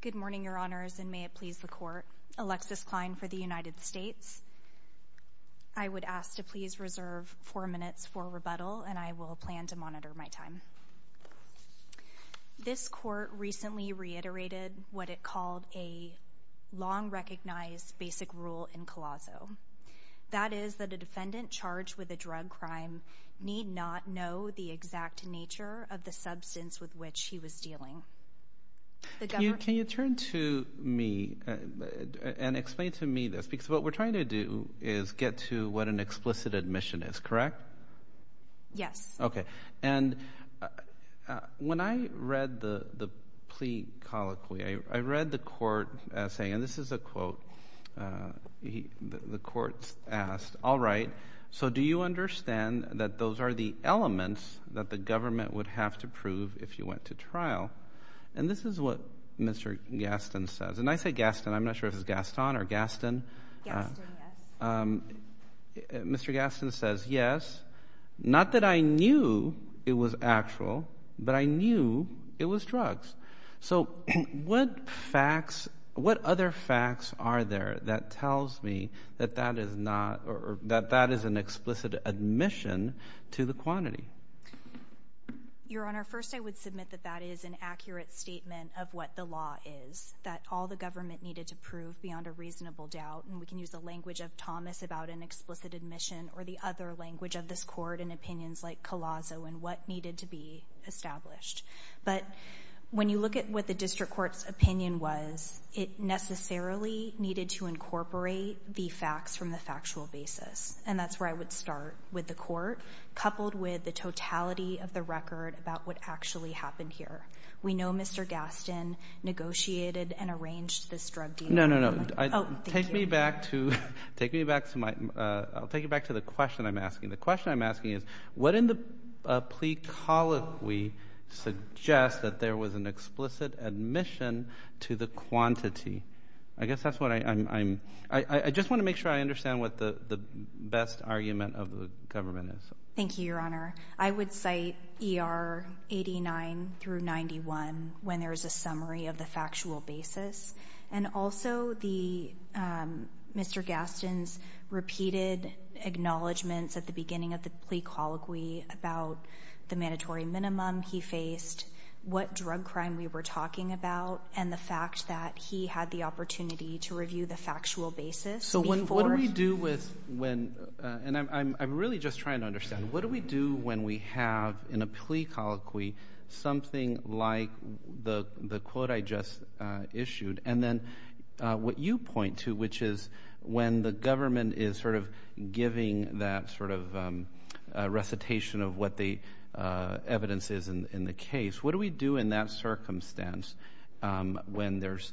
Good morning, Your Honors, and may it please the Court. Alexis Klein for the United States. I would ask to please reserve four minutes for rebuttal, and I will plan to monitor my time. This Court recently reiterated what it called a long-recognized basic rule in Colosso. That is that a defendant charged with a drug crime need not know the exact nature of the substance with which he was dealing. Can you turn to me and explain to me this, because what we're trying to do is get to what an explicit admission is, correct? Yes. Okay, and when I read the plea colloquy, I read the Court saying, and this is a quote, the Court asked, all right, so do you understand that those are the elements that the government would have to prove if you went to trial? And this is what Mr. Gaston says, and I say Gaston, I'm not sure if it's Gaston or Gaston. Mr. Gaston says, yes, not that I knew it was actual, but I knew it was drugs. So what facts, what other facts are there that tells me that that is not, or that that is an explicit admission to the quantity? Your Honor, first I would submit that that is an accurate statement of what the law is, that all the government needed to prove beyond a reasonable doubt, and we can use the language of Thomas about an explicit admission or the other language of this Court in opinions like Colosso and what needed to be established. But when you look at what the District Court's opinion was, it necessarily needed to incorporate the facts from the factual basis, and that's where I would start with the Court, coupled with the totality of the record about what actually happened here. We know Mr. Gaston negotiated and arranged this drug deal. No, no, no. Take me back to, take me back to my, I'll take you back to the question I'm asking. The question I'm asking is, what in the plea colloquy suggests that there was an explicit admission to the quantity? I guess that's what I'm, I just want to make sure I understand what the best argument of the government is. Thank you, Your Honor. I would cite ER 89 through 91 when there is a summary of the factual basis, and also the, Mr. Gaston's repeated acknowledgments at the beginning of the plea colloquy about the mandatory minimum he faced, what drug crime we were talking about, and the fact that he had the opportunity to review the factual basis. So what do we do with when, and I'm really just trying to understand, what do we do when we have in a plea colloquy something like the quote I just issued, and then what you point to, which is when the government is sort of giving that sort of recitation of what the evidence is in the case, what do we do in that circumstance when there's,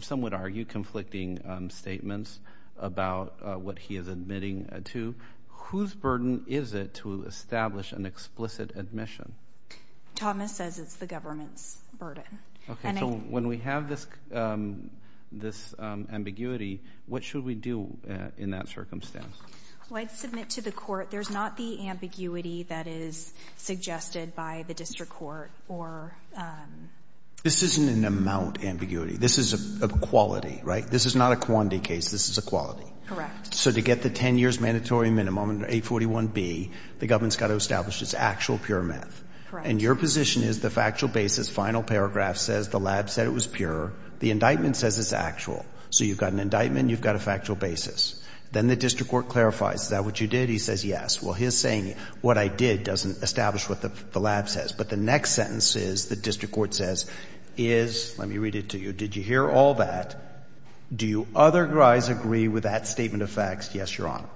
some would argue, conflicting statements about what he is admitting to? Whose burden is it to establish an explicit admission? Thomas says it's the government's burden. Okay, so when we have this, this ambiguity, what should we do in that circumstance? Well, I'd submit to the court there's not the ambiguity that is suggested by the district court or... This isn't an amount ambiguity, this is a quality, right? This is not a quantity case, this is a quality. Correct. So to get the 10 years mandatory minimum under 841B, the government's got to establish it's actual pure meth. Correct. And your position is the factual basis, final paragraph says the lab said it was pure, the indictment says it's actual. So you've got an indictment, you've got a factual basis. Then the district court clarifies, is that what you did? He says yes. Well, he's saying what I did doesn't establish what the lab says, but the next sentence is, the district court says, is, let me read it to you, did you hear all that? Do you otherwise agree with that statement of facts? Yes, your honor.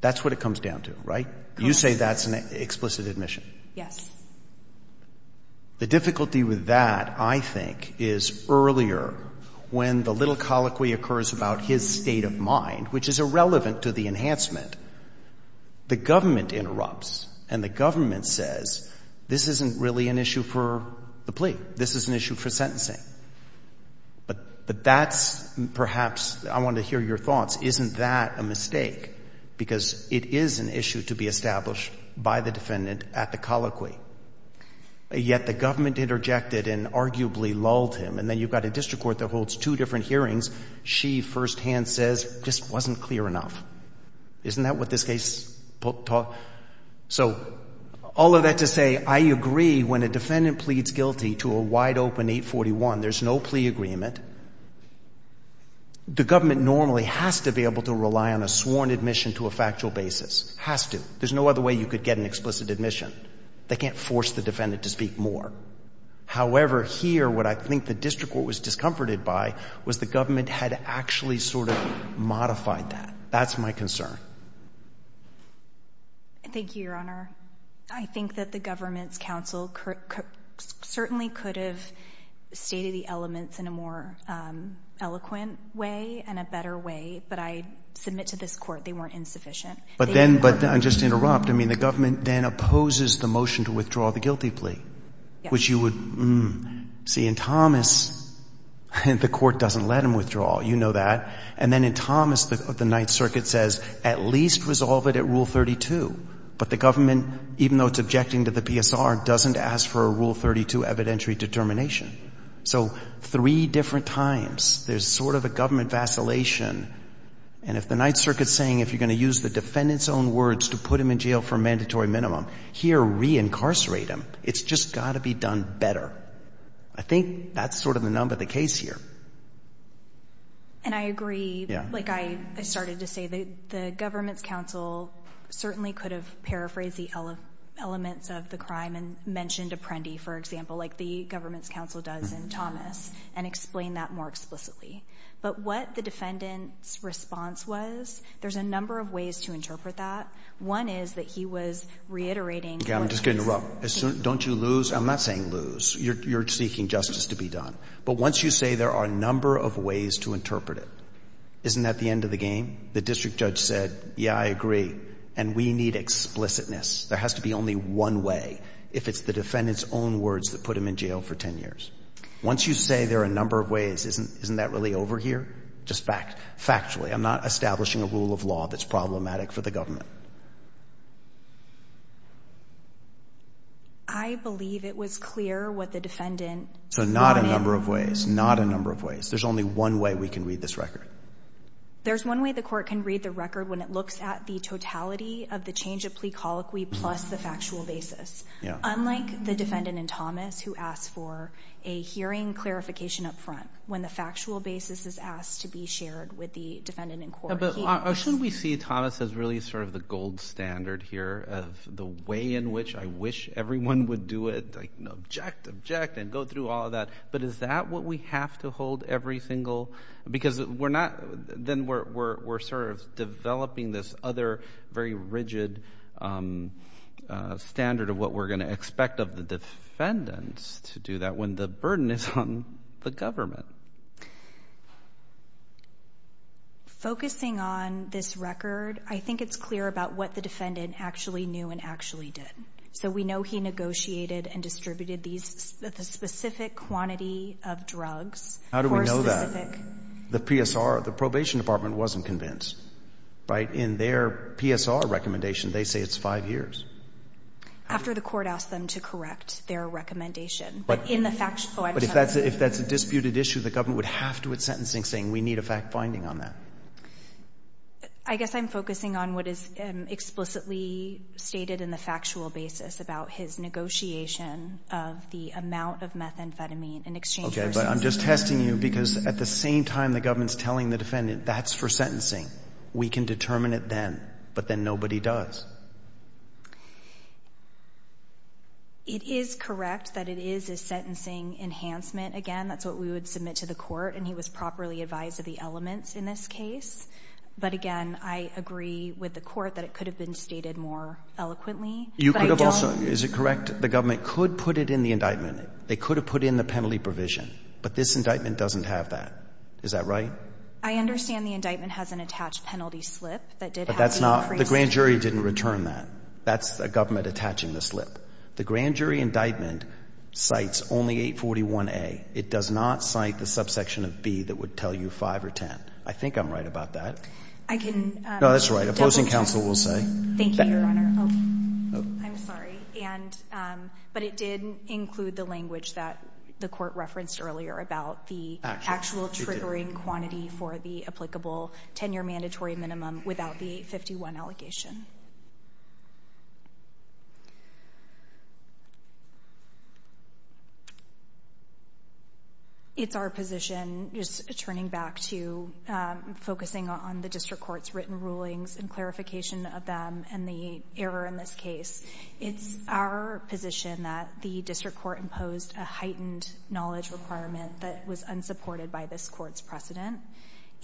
That's what it comes down to, right? You say that's an explicit admission. Yes. The difficulty with that, I think, is earlier, when the little colloquy occurs about his state of mind, which is irrelevant to the enhancement, the government interrupts and the government says, this isn't really an issue for the plea, this is an issue for sentencing. But that's perhaps, I want to hear your thoughts, isn't that a mistake? Because it is an issue to be established by the defendant at the colloquy. Yet the government interjected and arguably lulled him. And then you've got a district court that holds two different hearings. She firsthand says, this wasn't clear enough. Isn't that what this case taught? So all of that to say, I agree when a defendant pleads guilty to a wide open 841, there's no plea agreement. The government normally has to be able to rely on a sworn admission to a factual basis, has to. There's no other way you could get an explicit admission. They can't force the defendant to speak more. However, here, what I think the district court was discomforted by was the government had actually sort of modified that. That's my concern. Thank you, Your Honor. I think that the government's counsel certainly could have stated the elements in a more eloquent way and a better way, but I submit to this court, they weren't insufficient. But then, but just to interrupt, I mean, the government then opposes the motion to withdraw the guilty plea, which you would see in Thomas. The court doesn't let him withdraw. You know that. And then in Thomas, the Ninth Circuit says, at least resolve it at Rule 32. But the government, even though it's objecting to the PSR, doesn't ask for a Rule 32 evidentiary determination. So three different times, there's sort of a government vacillation. And if the Ninth Circuit's saying, if you're going to use the defendant's own words to put him in jail for a mandatory minimum, here, reincarcerate him. It's just got to be done better. I think that's sort of the number of the case here. And I agree. Like I started to say, the government's counsel certainly could have paraphrased the elements of the crime and mentioned Apprendi, for example, like the counsel does in Thomas, and explain that more explicitly. But what the defendant's response was, there's a number of ways to interpret that. One is that he was reiterating. Okay, I'm just going to interrupt. Don't you lose? I'm not saying lose. You're seeking justice to be done. But once you say there are a number of ways to interpret it, isn't that the end of the game? The district judge said, yeah, I agree. And we need explicitness. There has to be only one way if it's the defendant's own words that put him in jail for 10 years. Once you say there are a number of ways, isn't that really over here? Just factually. I'm not establishing a rule of law that's problematic for the government. I believe it was clear what the defendant... So not a number of ways. Not a number of ways. There's only one way we can read this record. There's one way the court can read the record when it looks at the totality of the change of unlike the defendant in Thomas who asked for a hearing clarification up front when the factual basis is asked to be shared with the defendant in court. Shouldn't we see Thomas as really sort of the gold standard here of the way in which I wish everyone would do it, object, object, and go through all of that. But is that what we have to hold every single... Because then we're sort of developing this other very rigid standard of what we're going to expect of the defendants to do that when the burden is on the government. Focusing on this record, I think it's clear about what the defendant actually knew and actually did. So we know he negotiated and distributed the specific quantity of drugs. How do we know that? The PSR, the probation department wasn't convinced, right? In their PSR recommendation, they say it's five years. After the court asked them to correct their recommendation, but in the fact... But if that's a disputed issue, the government would have to with sentencing saying we need a fact finding on that. I guess I'm focusing on what is explicitly stated in the factual basis about his negotiation of the amount of methamphetamine in exchange for... Okay, but I'm just testing you because at the same time the government's telling the defendant that's for sentencing. We can determine it then, but then nobody does. It is correct that it is a sentencing enhancement. Again, that's what we would submit to the court and he was properly advised of the elements in this case. But again, I agree with the court that it could have been stated more eloquently. You could have also... Is it correct the government could put it in the indictment? They could have put in the penalty provision, but this indictment doesn't have that. Is that right? I understand the indictment has an attached penalty slip that did have... But that's not... The grand jury didn't return that. That's the government attaching the slip. The grand jury indictment cites only 841A. It does not cite the subsection of B that would tell you 5 or 10. I think I'm right about that. I can... No, that's right. Opposing counsel will say... Thank you, Your Honor. I'm sorry. But it did include the language that the court for the applicable 10-year mandatory minimum without the 851 allegation. It's our position, just turning back to focusing on the district court's written rulings and clarification of them and the error in this case. It's our position that the district court imposed a heightened knowledge requirement that was unsupported by this court's precedent.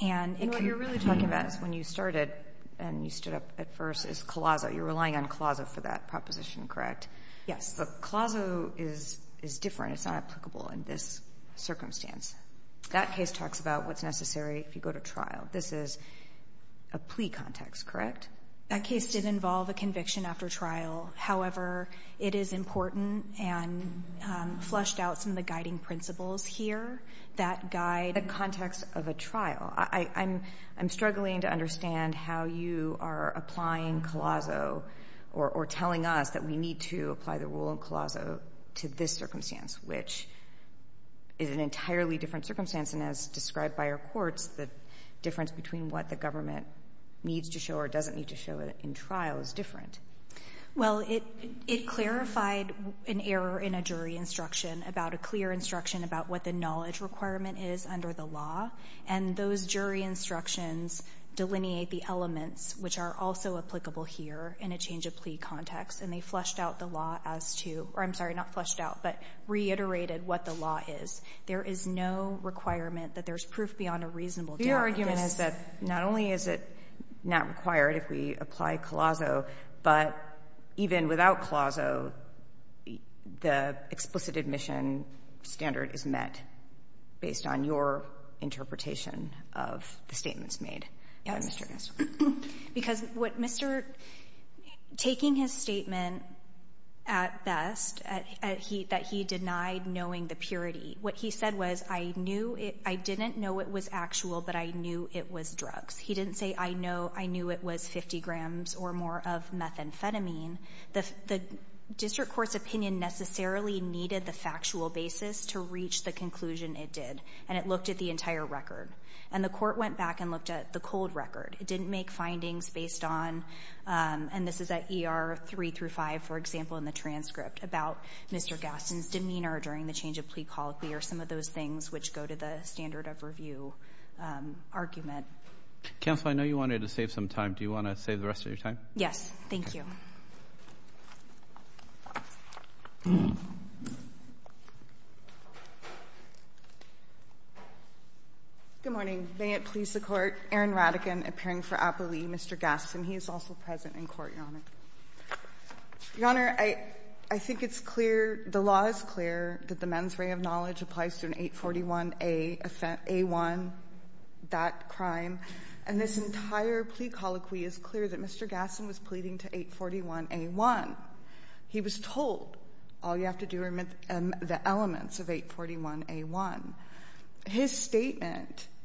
And what you're really talking about is when you started and you stood up at first is Colaso. You're relying on Colaso for that proposition, correct? Yes. But Colaso is different. It's not applicable in this circumstance. That case talks about what's necessary if you go to trial. This is a plea context, correct? That case did involve a conviction after trial. However, it is important and fleshed out some of the guiding principles here that guide the context of a trial. I'm struggling to understand how you are applying Colaso or telling us that we need to apply the rule in Colaso to this circumstance, which is an entirely different circumstance. And as described by our courts, the difference between what the government needs to show or doesn't need to show in trial is different. Well, it clarified an error in a jury instruction about a clear instruction about what the knowledge requirement is under the law. And those jury instructions delineate the elements, which are also applicable here in a change of plea context. And they fleshed out the law as to, or I'm sorry, not fleshed out, but reiterated what the law is. There is no requirement that there's proof beyond a reasonable doubt. Your argument is that not only is it not required if we apply Colaso, but even without Colaso, the explicit admission standard is met based on your interpretation of the statements made. Because what Mr. — taking his statement at best, that he denied knowing the purity, what he said was, I knew it — I didn't know it was actual, but I knew it was drugs. He didn't say, I know — I knew it was 50 grams or more of methamphetamine. The district court's opinion necessarily needed the factual basis to reach the conclusion it did. And it looked at the entire record. And the court went back and looked at the cold record. It didn't make findings based on — and this is at ER 3 through 5, for example, in the transcript about Mr. Gaston's demeanor during the change of plea colloquy, or some of those things which go to the standard of review argument. Counsel, I know you wanted to save some time. Do you want to save the rest of your time? Yes. Thank you. Good morning. May it please the Court, Aaron Radican, appearing for Applee, Mr. Gaston. He is also present in court, Your Honor. Your Honor, I think it's clear — the law is clear that the mens rea of knowledge applies to an 841A offense — A1, that crime. And this entire plea colloquy is clear that Mr. Gaston was pleading to 841A1. He was told, all you have to do are the elements of 841A1. His statement —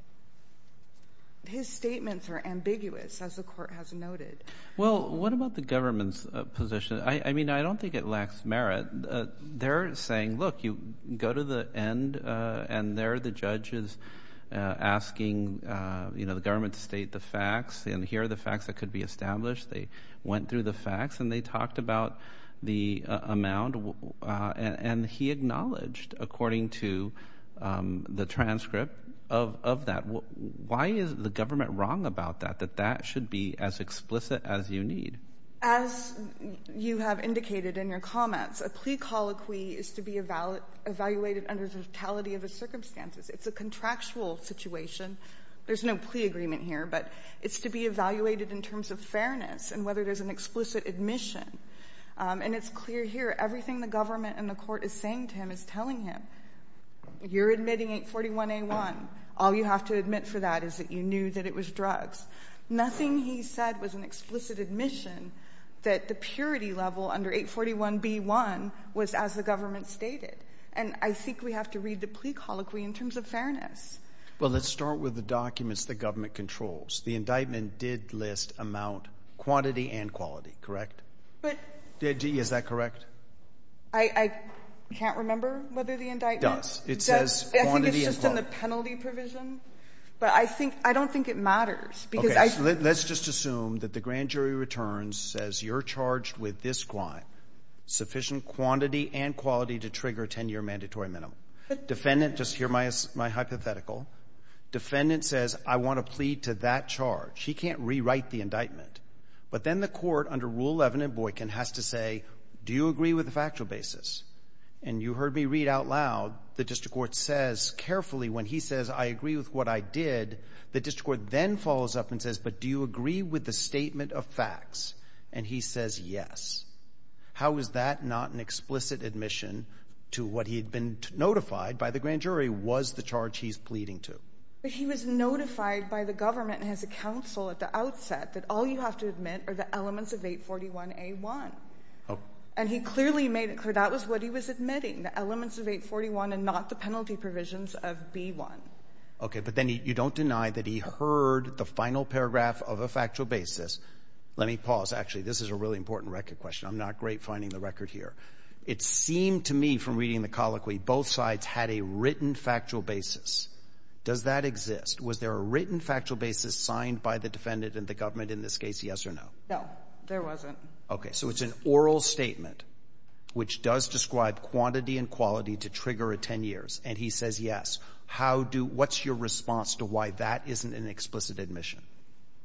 his statements are ambiguous, as the Court has noted. Well, what about the government's position? I mean, I don't think it lacks merit. They're saying, look, you go to the end, and there are the judges asking, you know, the government to state the facts, and here are the facts that could be established. They went through the facts, and they talked about the amount, and he acknowledged, according to the transcript of that. Why is the government wrong about that, that that should be as explicit as you need? As you have indicated in your comments, a plea colloquy is to be evaluated under the totality of the circumstances. It's a contractual situation. There's no plea agreement here, but it's to be evaluated in terms of fairness and whether there's an explicit admission. And it's clear here, everything the government and the Court is saying to him is telling him you're admitting 841A1. All you have to admit for that is that you knew that it was drugs. Nothing he said was an explicit admission that the purity level under 841B1 was as the government stated. And I think we have to read the plea colloquy in terms of fairness. Well, let's start with the documents the government controls. The indictment did list amount, quantity, and quality, correct? Is that correct? I can't remember whether the indictment — I think it's just in the penalty provision, but I don't think it matters. Let's just assume that the grand jury returns, says you're charged with this crime, sufficient quantity and quality to trigger a 10-year mandatory minimum. Defendant, just hear my hypothetical. Defendant says, I want to plead to that charge. He can't rewrite the indictment. But then the Court, under Rule 11 in Boykin, has to say, do you agree with factual basis? And you heard me read out loud, the district court says carefully, when he says, I agree with what I did, the district court then follows up and says, but do you agree with the statement of facts? And he says, yes. How is that not an explicit admission to what he had been notified by the grand jury was the charge he's pleading to? But he was notified by the government and his counsel at the outset that all you have to make clear, that was what he was admitting, the elements of 841 and not the penalty provisions of B1. Okay. But then you don't deny that he heard the final paragraph of a factual basis. Let me pause. Actually, this is a really important record question. I'm not great finding the record here. It seemed to me from reading the colloquy, both sides had a written factual basis. Does that exist? Was there a written factual basis signed by the defendant and the government in this case, yes or no? No, there wasn't. Okay. So it's an oral statement, which does describe quantity and quality to trigger a 10 years. And he says, yes. What's your response to why that isn't an explicit admission?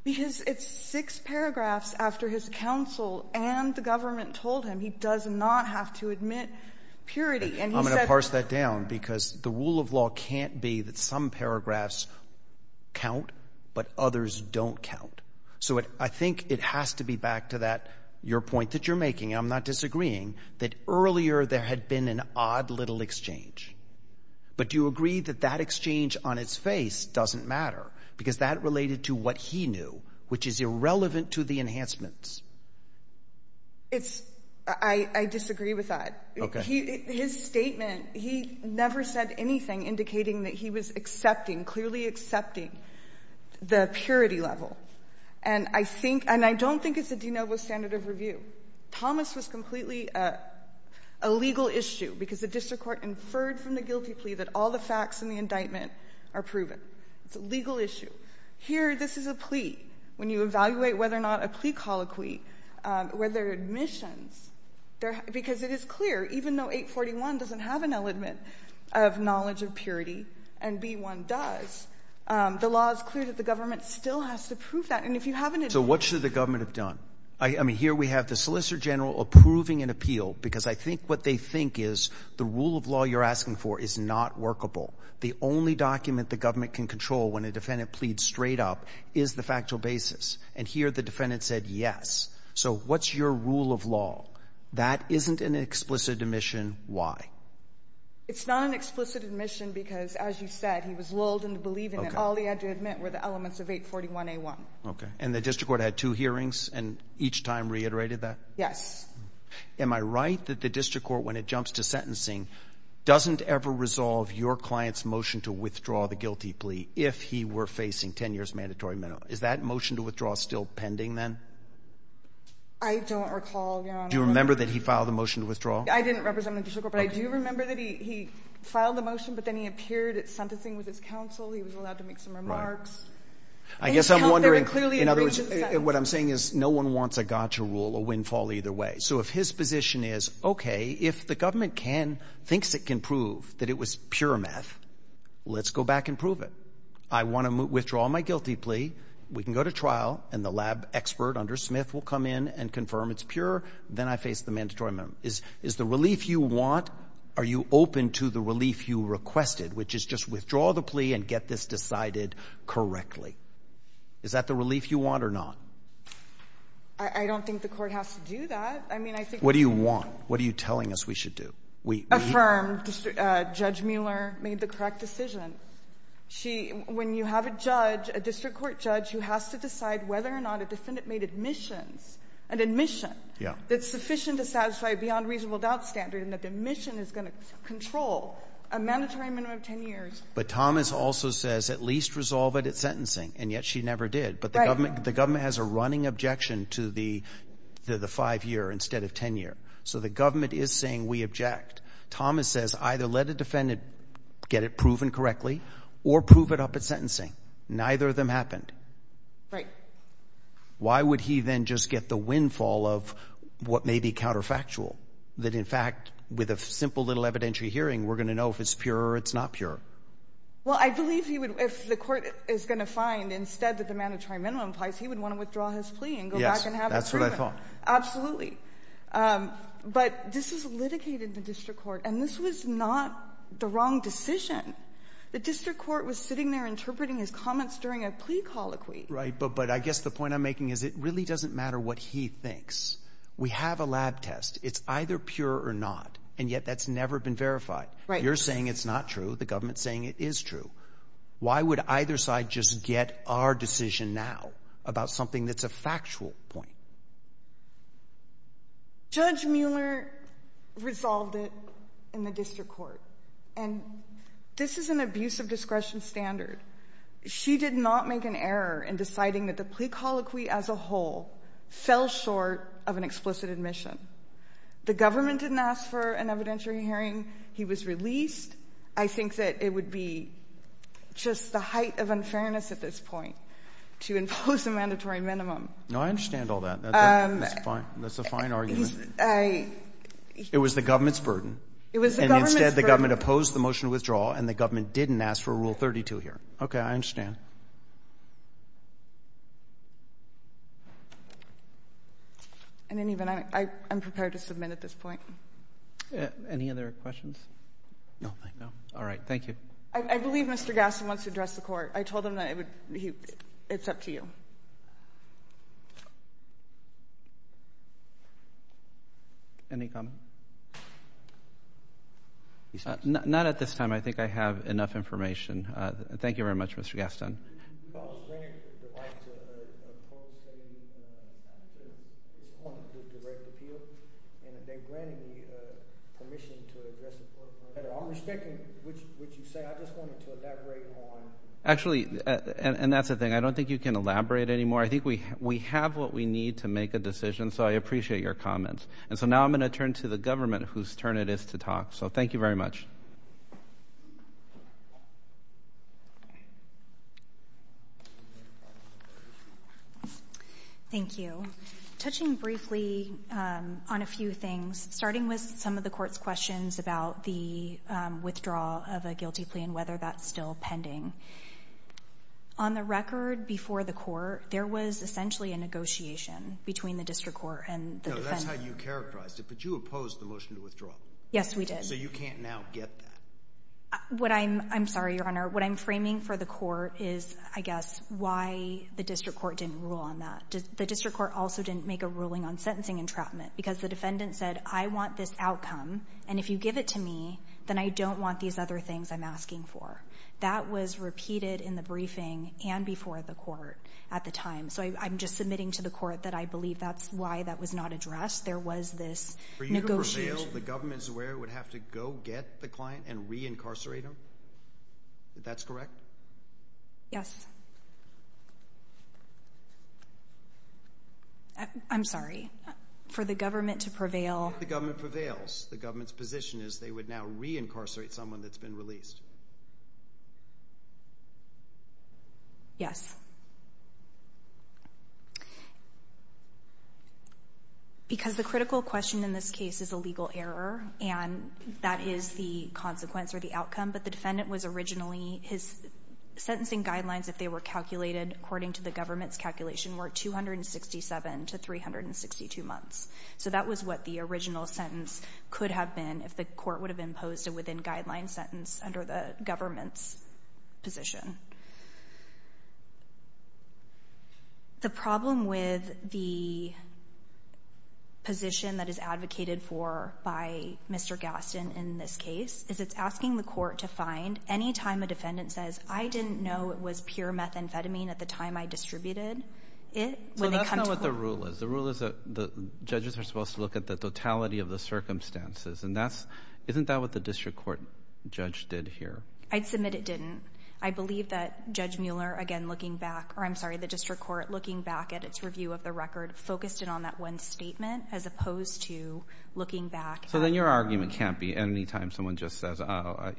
Because it's six paragraphs after his counsel and the government told him he does not have to admit purity. I'm going to parse that down because the rule of law can't be that some paragraphs count, but others don't count. So I think it has to be back to that, your point that you're making, I'm not disagreeing, that earlier there had been an odd little exchange. But do you agree that that exchange on its face doesn't matter? Because that related to what he knew, which is irrelevant to the enhancements. It's, I disagree with that. His statement, he never said anything indicating that he was clearly accepting the purity level. And I don't think it's a de novo standard of review. Thomas was completely a legal issue because the district court inferred from the guilty plea that all the facts in the indictment are proven. It's a legal issue. Here, this is a plea. When you evaluate whether or not a plea colloquy, whether admissions, because it is clear, even though 841 doesn't have an element of knowledge of purity and B1 does, the law is clear that the government still has to prove that. And if you haven't- So what should the government have done? I mean, here we have the Solicitor General approving an appeal because I think what they think is the rule of law you're asking for is not workable. The only document the government can control when a defendant pleads straight up is the factual basis. And here the defendant said, yes. So what's your rule of law? That isn't an explicit admission. Why? It's not an explicit admission because, as you said, he was lulled into believing that all he had to admit were the elements of 841A1. Okay. And the district court had two hearings and each time reiterated that? Yes. Am I right that the district court, when it jumps to sentencing, doesn't ever resolve your client's motion to withdraw the guilty plea if he were facing 10 years mandatory minimum? Is that motion to withdraw still pending then? I don't recall, Your Honor. Do you remember that he filed a motion to withdraw? I didn't represent the district court, but I do remember that he filed the motion, but then he appeared at sentencing with his counsel. He was allowed to make some remarks. I guess I'm wondering, in other words, what I'm saying is no one wants a gotcha rule or windfall either way. So if his position is, okay, if the government thinks it can prove that it was pure meth, let's go back and prove it. I want to withdraw my guilty plea. We can go to Smith. We'll come in and confirm it's pure. Then I face the mandatory minimum. Is the relief you want? Are you open to the relief you requested, which is just withdraw the plea and get this decided correctly? Is that the relief you want or not? I don't think the court has to do that. I mean, I think... What do you want? What are you telling us we should do? Affirm Judge Mueller made the correct decision. When you have a judge, a district court judge, who has to decide whether or not a defendant made admissions, an admission that's sufficient to satisfy a beyond reasonable doubt standard and that the admission is going to control a mandatory minimum of 10 years... But Thomas also says at least resolve it at sentencing, and yet she never did. But the government has a running objection to the five-year instead of 10-year. So the government is saying we object. Thomas says either let a defendant get it proven correctly or prove it up at sentencing. Neither of them happened. Right. Why would he then just get the windfall of what may be counterfactual? That in fact, with a simple little evidentiary hearing, we're going to know if it's pure or it's not pure. Well, I believe if the court is going to find instead that the mandatory minimum applies, he would want to withdraw his plea and go back and have it proven. Yes, that's what I thought. Absolutely. But this is litigated in the district court, and this was not the wrong decision. The district court was sitting there interpreting his comments during a plea colloquy. Right. But I guess the point I'm making is it really doesn't matter what he thinks. We have a lab test. It's either pure or not, and yet that's never been verified. You're saying it's not true. The government's saying it is true. Why would either side just get our decision now about something that's a factual point? Judge Mueller resolved it in the district court, and this is an abuse of discretion standard. She did not make an error in deciding that the plea colloquy as a whole fell short of an explicit admission. The government didn't ask for an evidentiary hearing. He was released. I think that it would be just the height of unfairness at this point to impose a mandatory minimum. No, I understand all that. That's a fine argument. It was the government's burden. It was the government's burden. And instead, the government opposed the motion to withdraw, and the government didn't ask for Rule 32 here. Okay, I understand. I didn't even... I'm prepared to submit at this point. Any other questions? No, thank you. All right, thank you. I believe Mr. Gasson wants to address the court. I told him that it's up to you. Any comment? Not at this time. I think I have enough information. Thank you very much, Mr. Gasson. Did you call the grantor to the right to appoint to a direct appeal? And are they granting me permission to address the court? I'm respecting what you say. I just wanted to elaborate on... Actually, and that's the thing. I don't think you can elaborate anymore. I think we have what we need to make a decision, so I appreciate your comments. And so now I'm going to turn to the government, whose turn it is to talk. So thank you very much. Thank you. Touching briefly on a few things, starting with some of the court's questions about the withdrawal of a guilty plea and whether that's still pending. On the record before the court, there was essentially a negotiation between the district court and the defendant. No, that's how you characterized it, but you opposed the motion to withdraw. Yes, we did. So you can't now get that. I'm sorry, Your Honor. What I'm framing for the court is, I guess, why the district court didn't rule on that. The district court also didn't make a ruling on sentencing entrapment because the defendant said, I want this outcome, and if you give it to me, then I don't want these other things I'm asking for. That was repeated in the briefing and before the court at the time. So I'm just submitting to the court that I believe that's why that was not addressed. There was this negotiation. For you to prevail, the government's where it would have to go get the client and reincarcerate him? That's correct? Yes. I'm sorry. For the government to prevail... If the government prevails, the government's position is they would now reincarcerate someone that's been released. Yes. Because the critical question in this case is a legal error, and that is the consequence or the outcome. But the defendant was originally... His sentencing guidelines, if they were calculated according to the government's calculation, were 267 to 362 months. So that was what the original sentence could have been if the court would have imposed a within-guideline sentence under the government's position. The problem with the position that is advocated for by Mr. Gaston in this case is it's asking the court to find any time a defendant says, I didn't know it was pure methamphetamine at the time I distributed it. So that's not what the rule is. The rule is that the judges are supposed to look at the totality of the circumstances. Isn't that what the district court judge did here? I'd submit it didn't. I believe that Judge Mueller, again, looking back... Or I'm sorry, the district court, looking back at its review of the record, focused in on that one statement as opposed to looking back... So then your argument can't be any time someone just says, oh,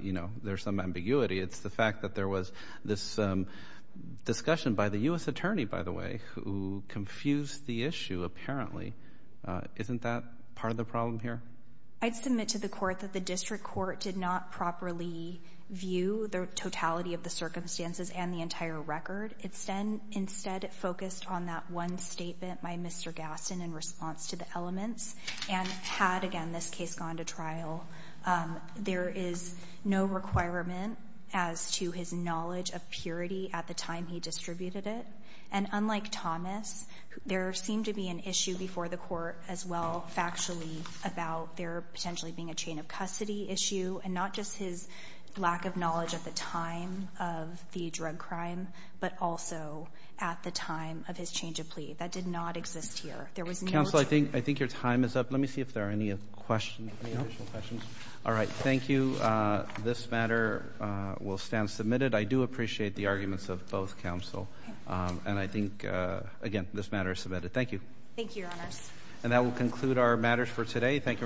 there's some ambiguity. It's the fact that there was this discussion by the U.S. attorney, by the way, who confused the issue, apparently. Isn't that part of the problem here? I'd submit to the court that the district court did not properly view the totality of the circumstances and the entire record. It instead focused on that one statement by Mr. Gaston in response to the elements. And had, again, this case gone to trial, there is no requirement as to his knowledge of purity at the time he distributed it. And unlike Thomas, there seemed to be an issue before the court as well, factually, about there potentially being a chain of custody issue and not just his lack of knowledge at the time of the drug crime, but also at the time of his change of plea. That did not exist here. There was no... Counsel, I think your time is up. Let me see if there are any additional questions. All right, thank you. This matter will stand submitted. I do appreciate the arguments of both counsel. And I think, again, this matter is submitted. Thank you. Thank you, Your Honor. And that will conclude our matters for today. Thank you very much.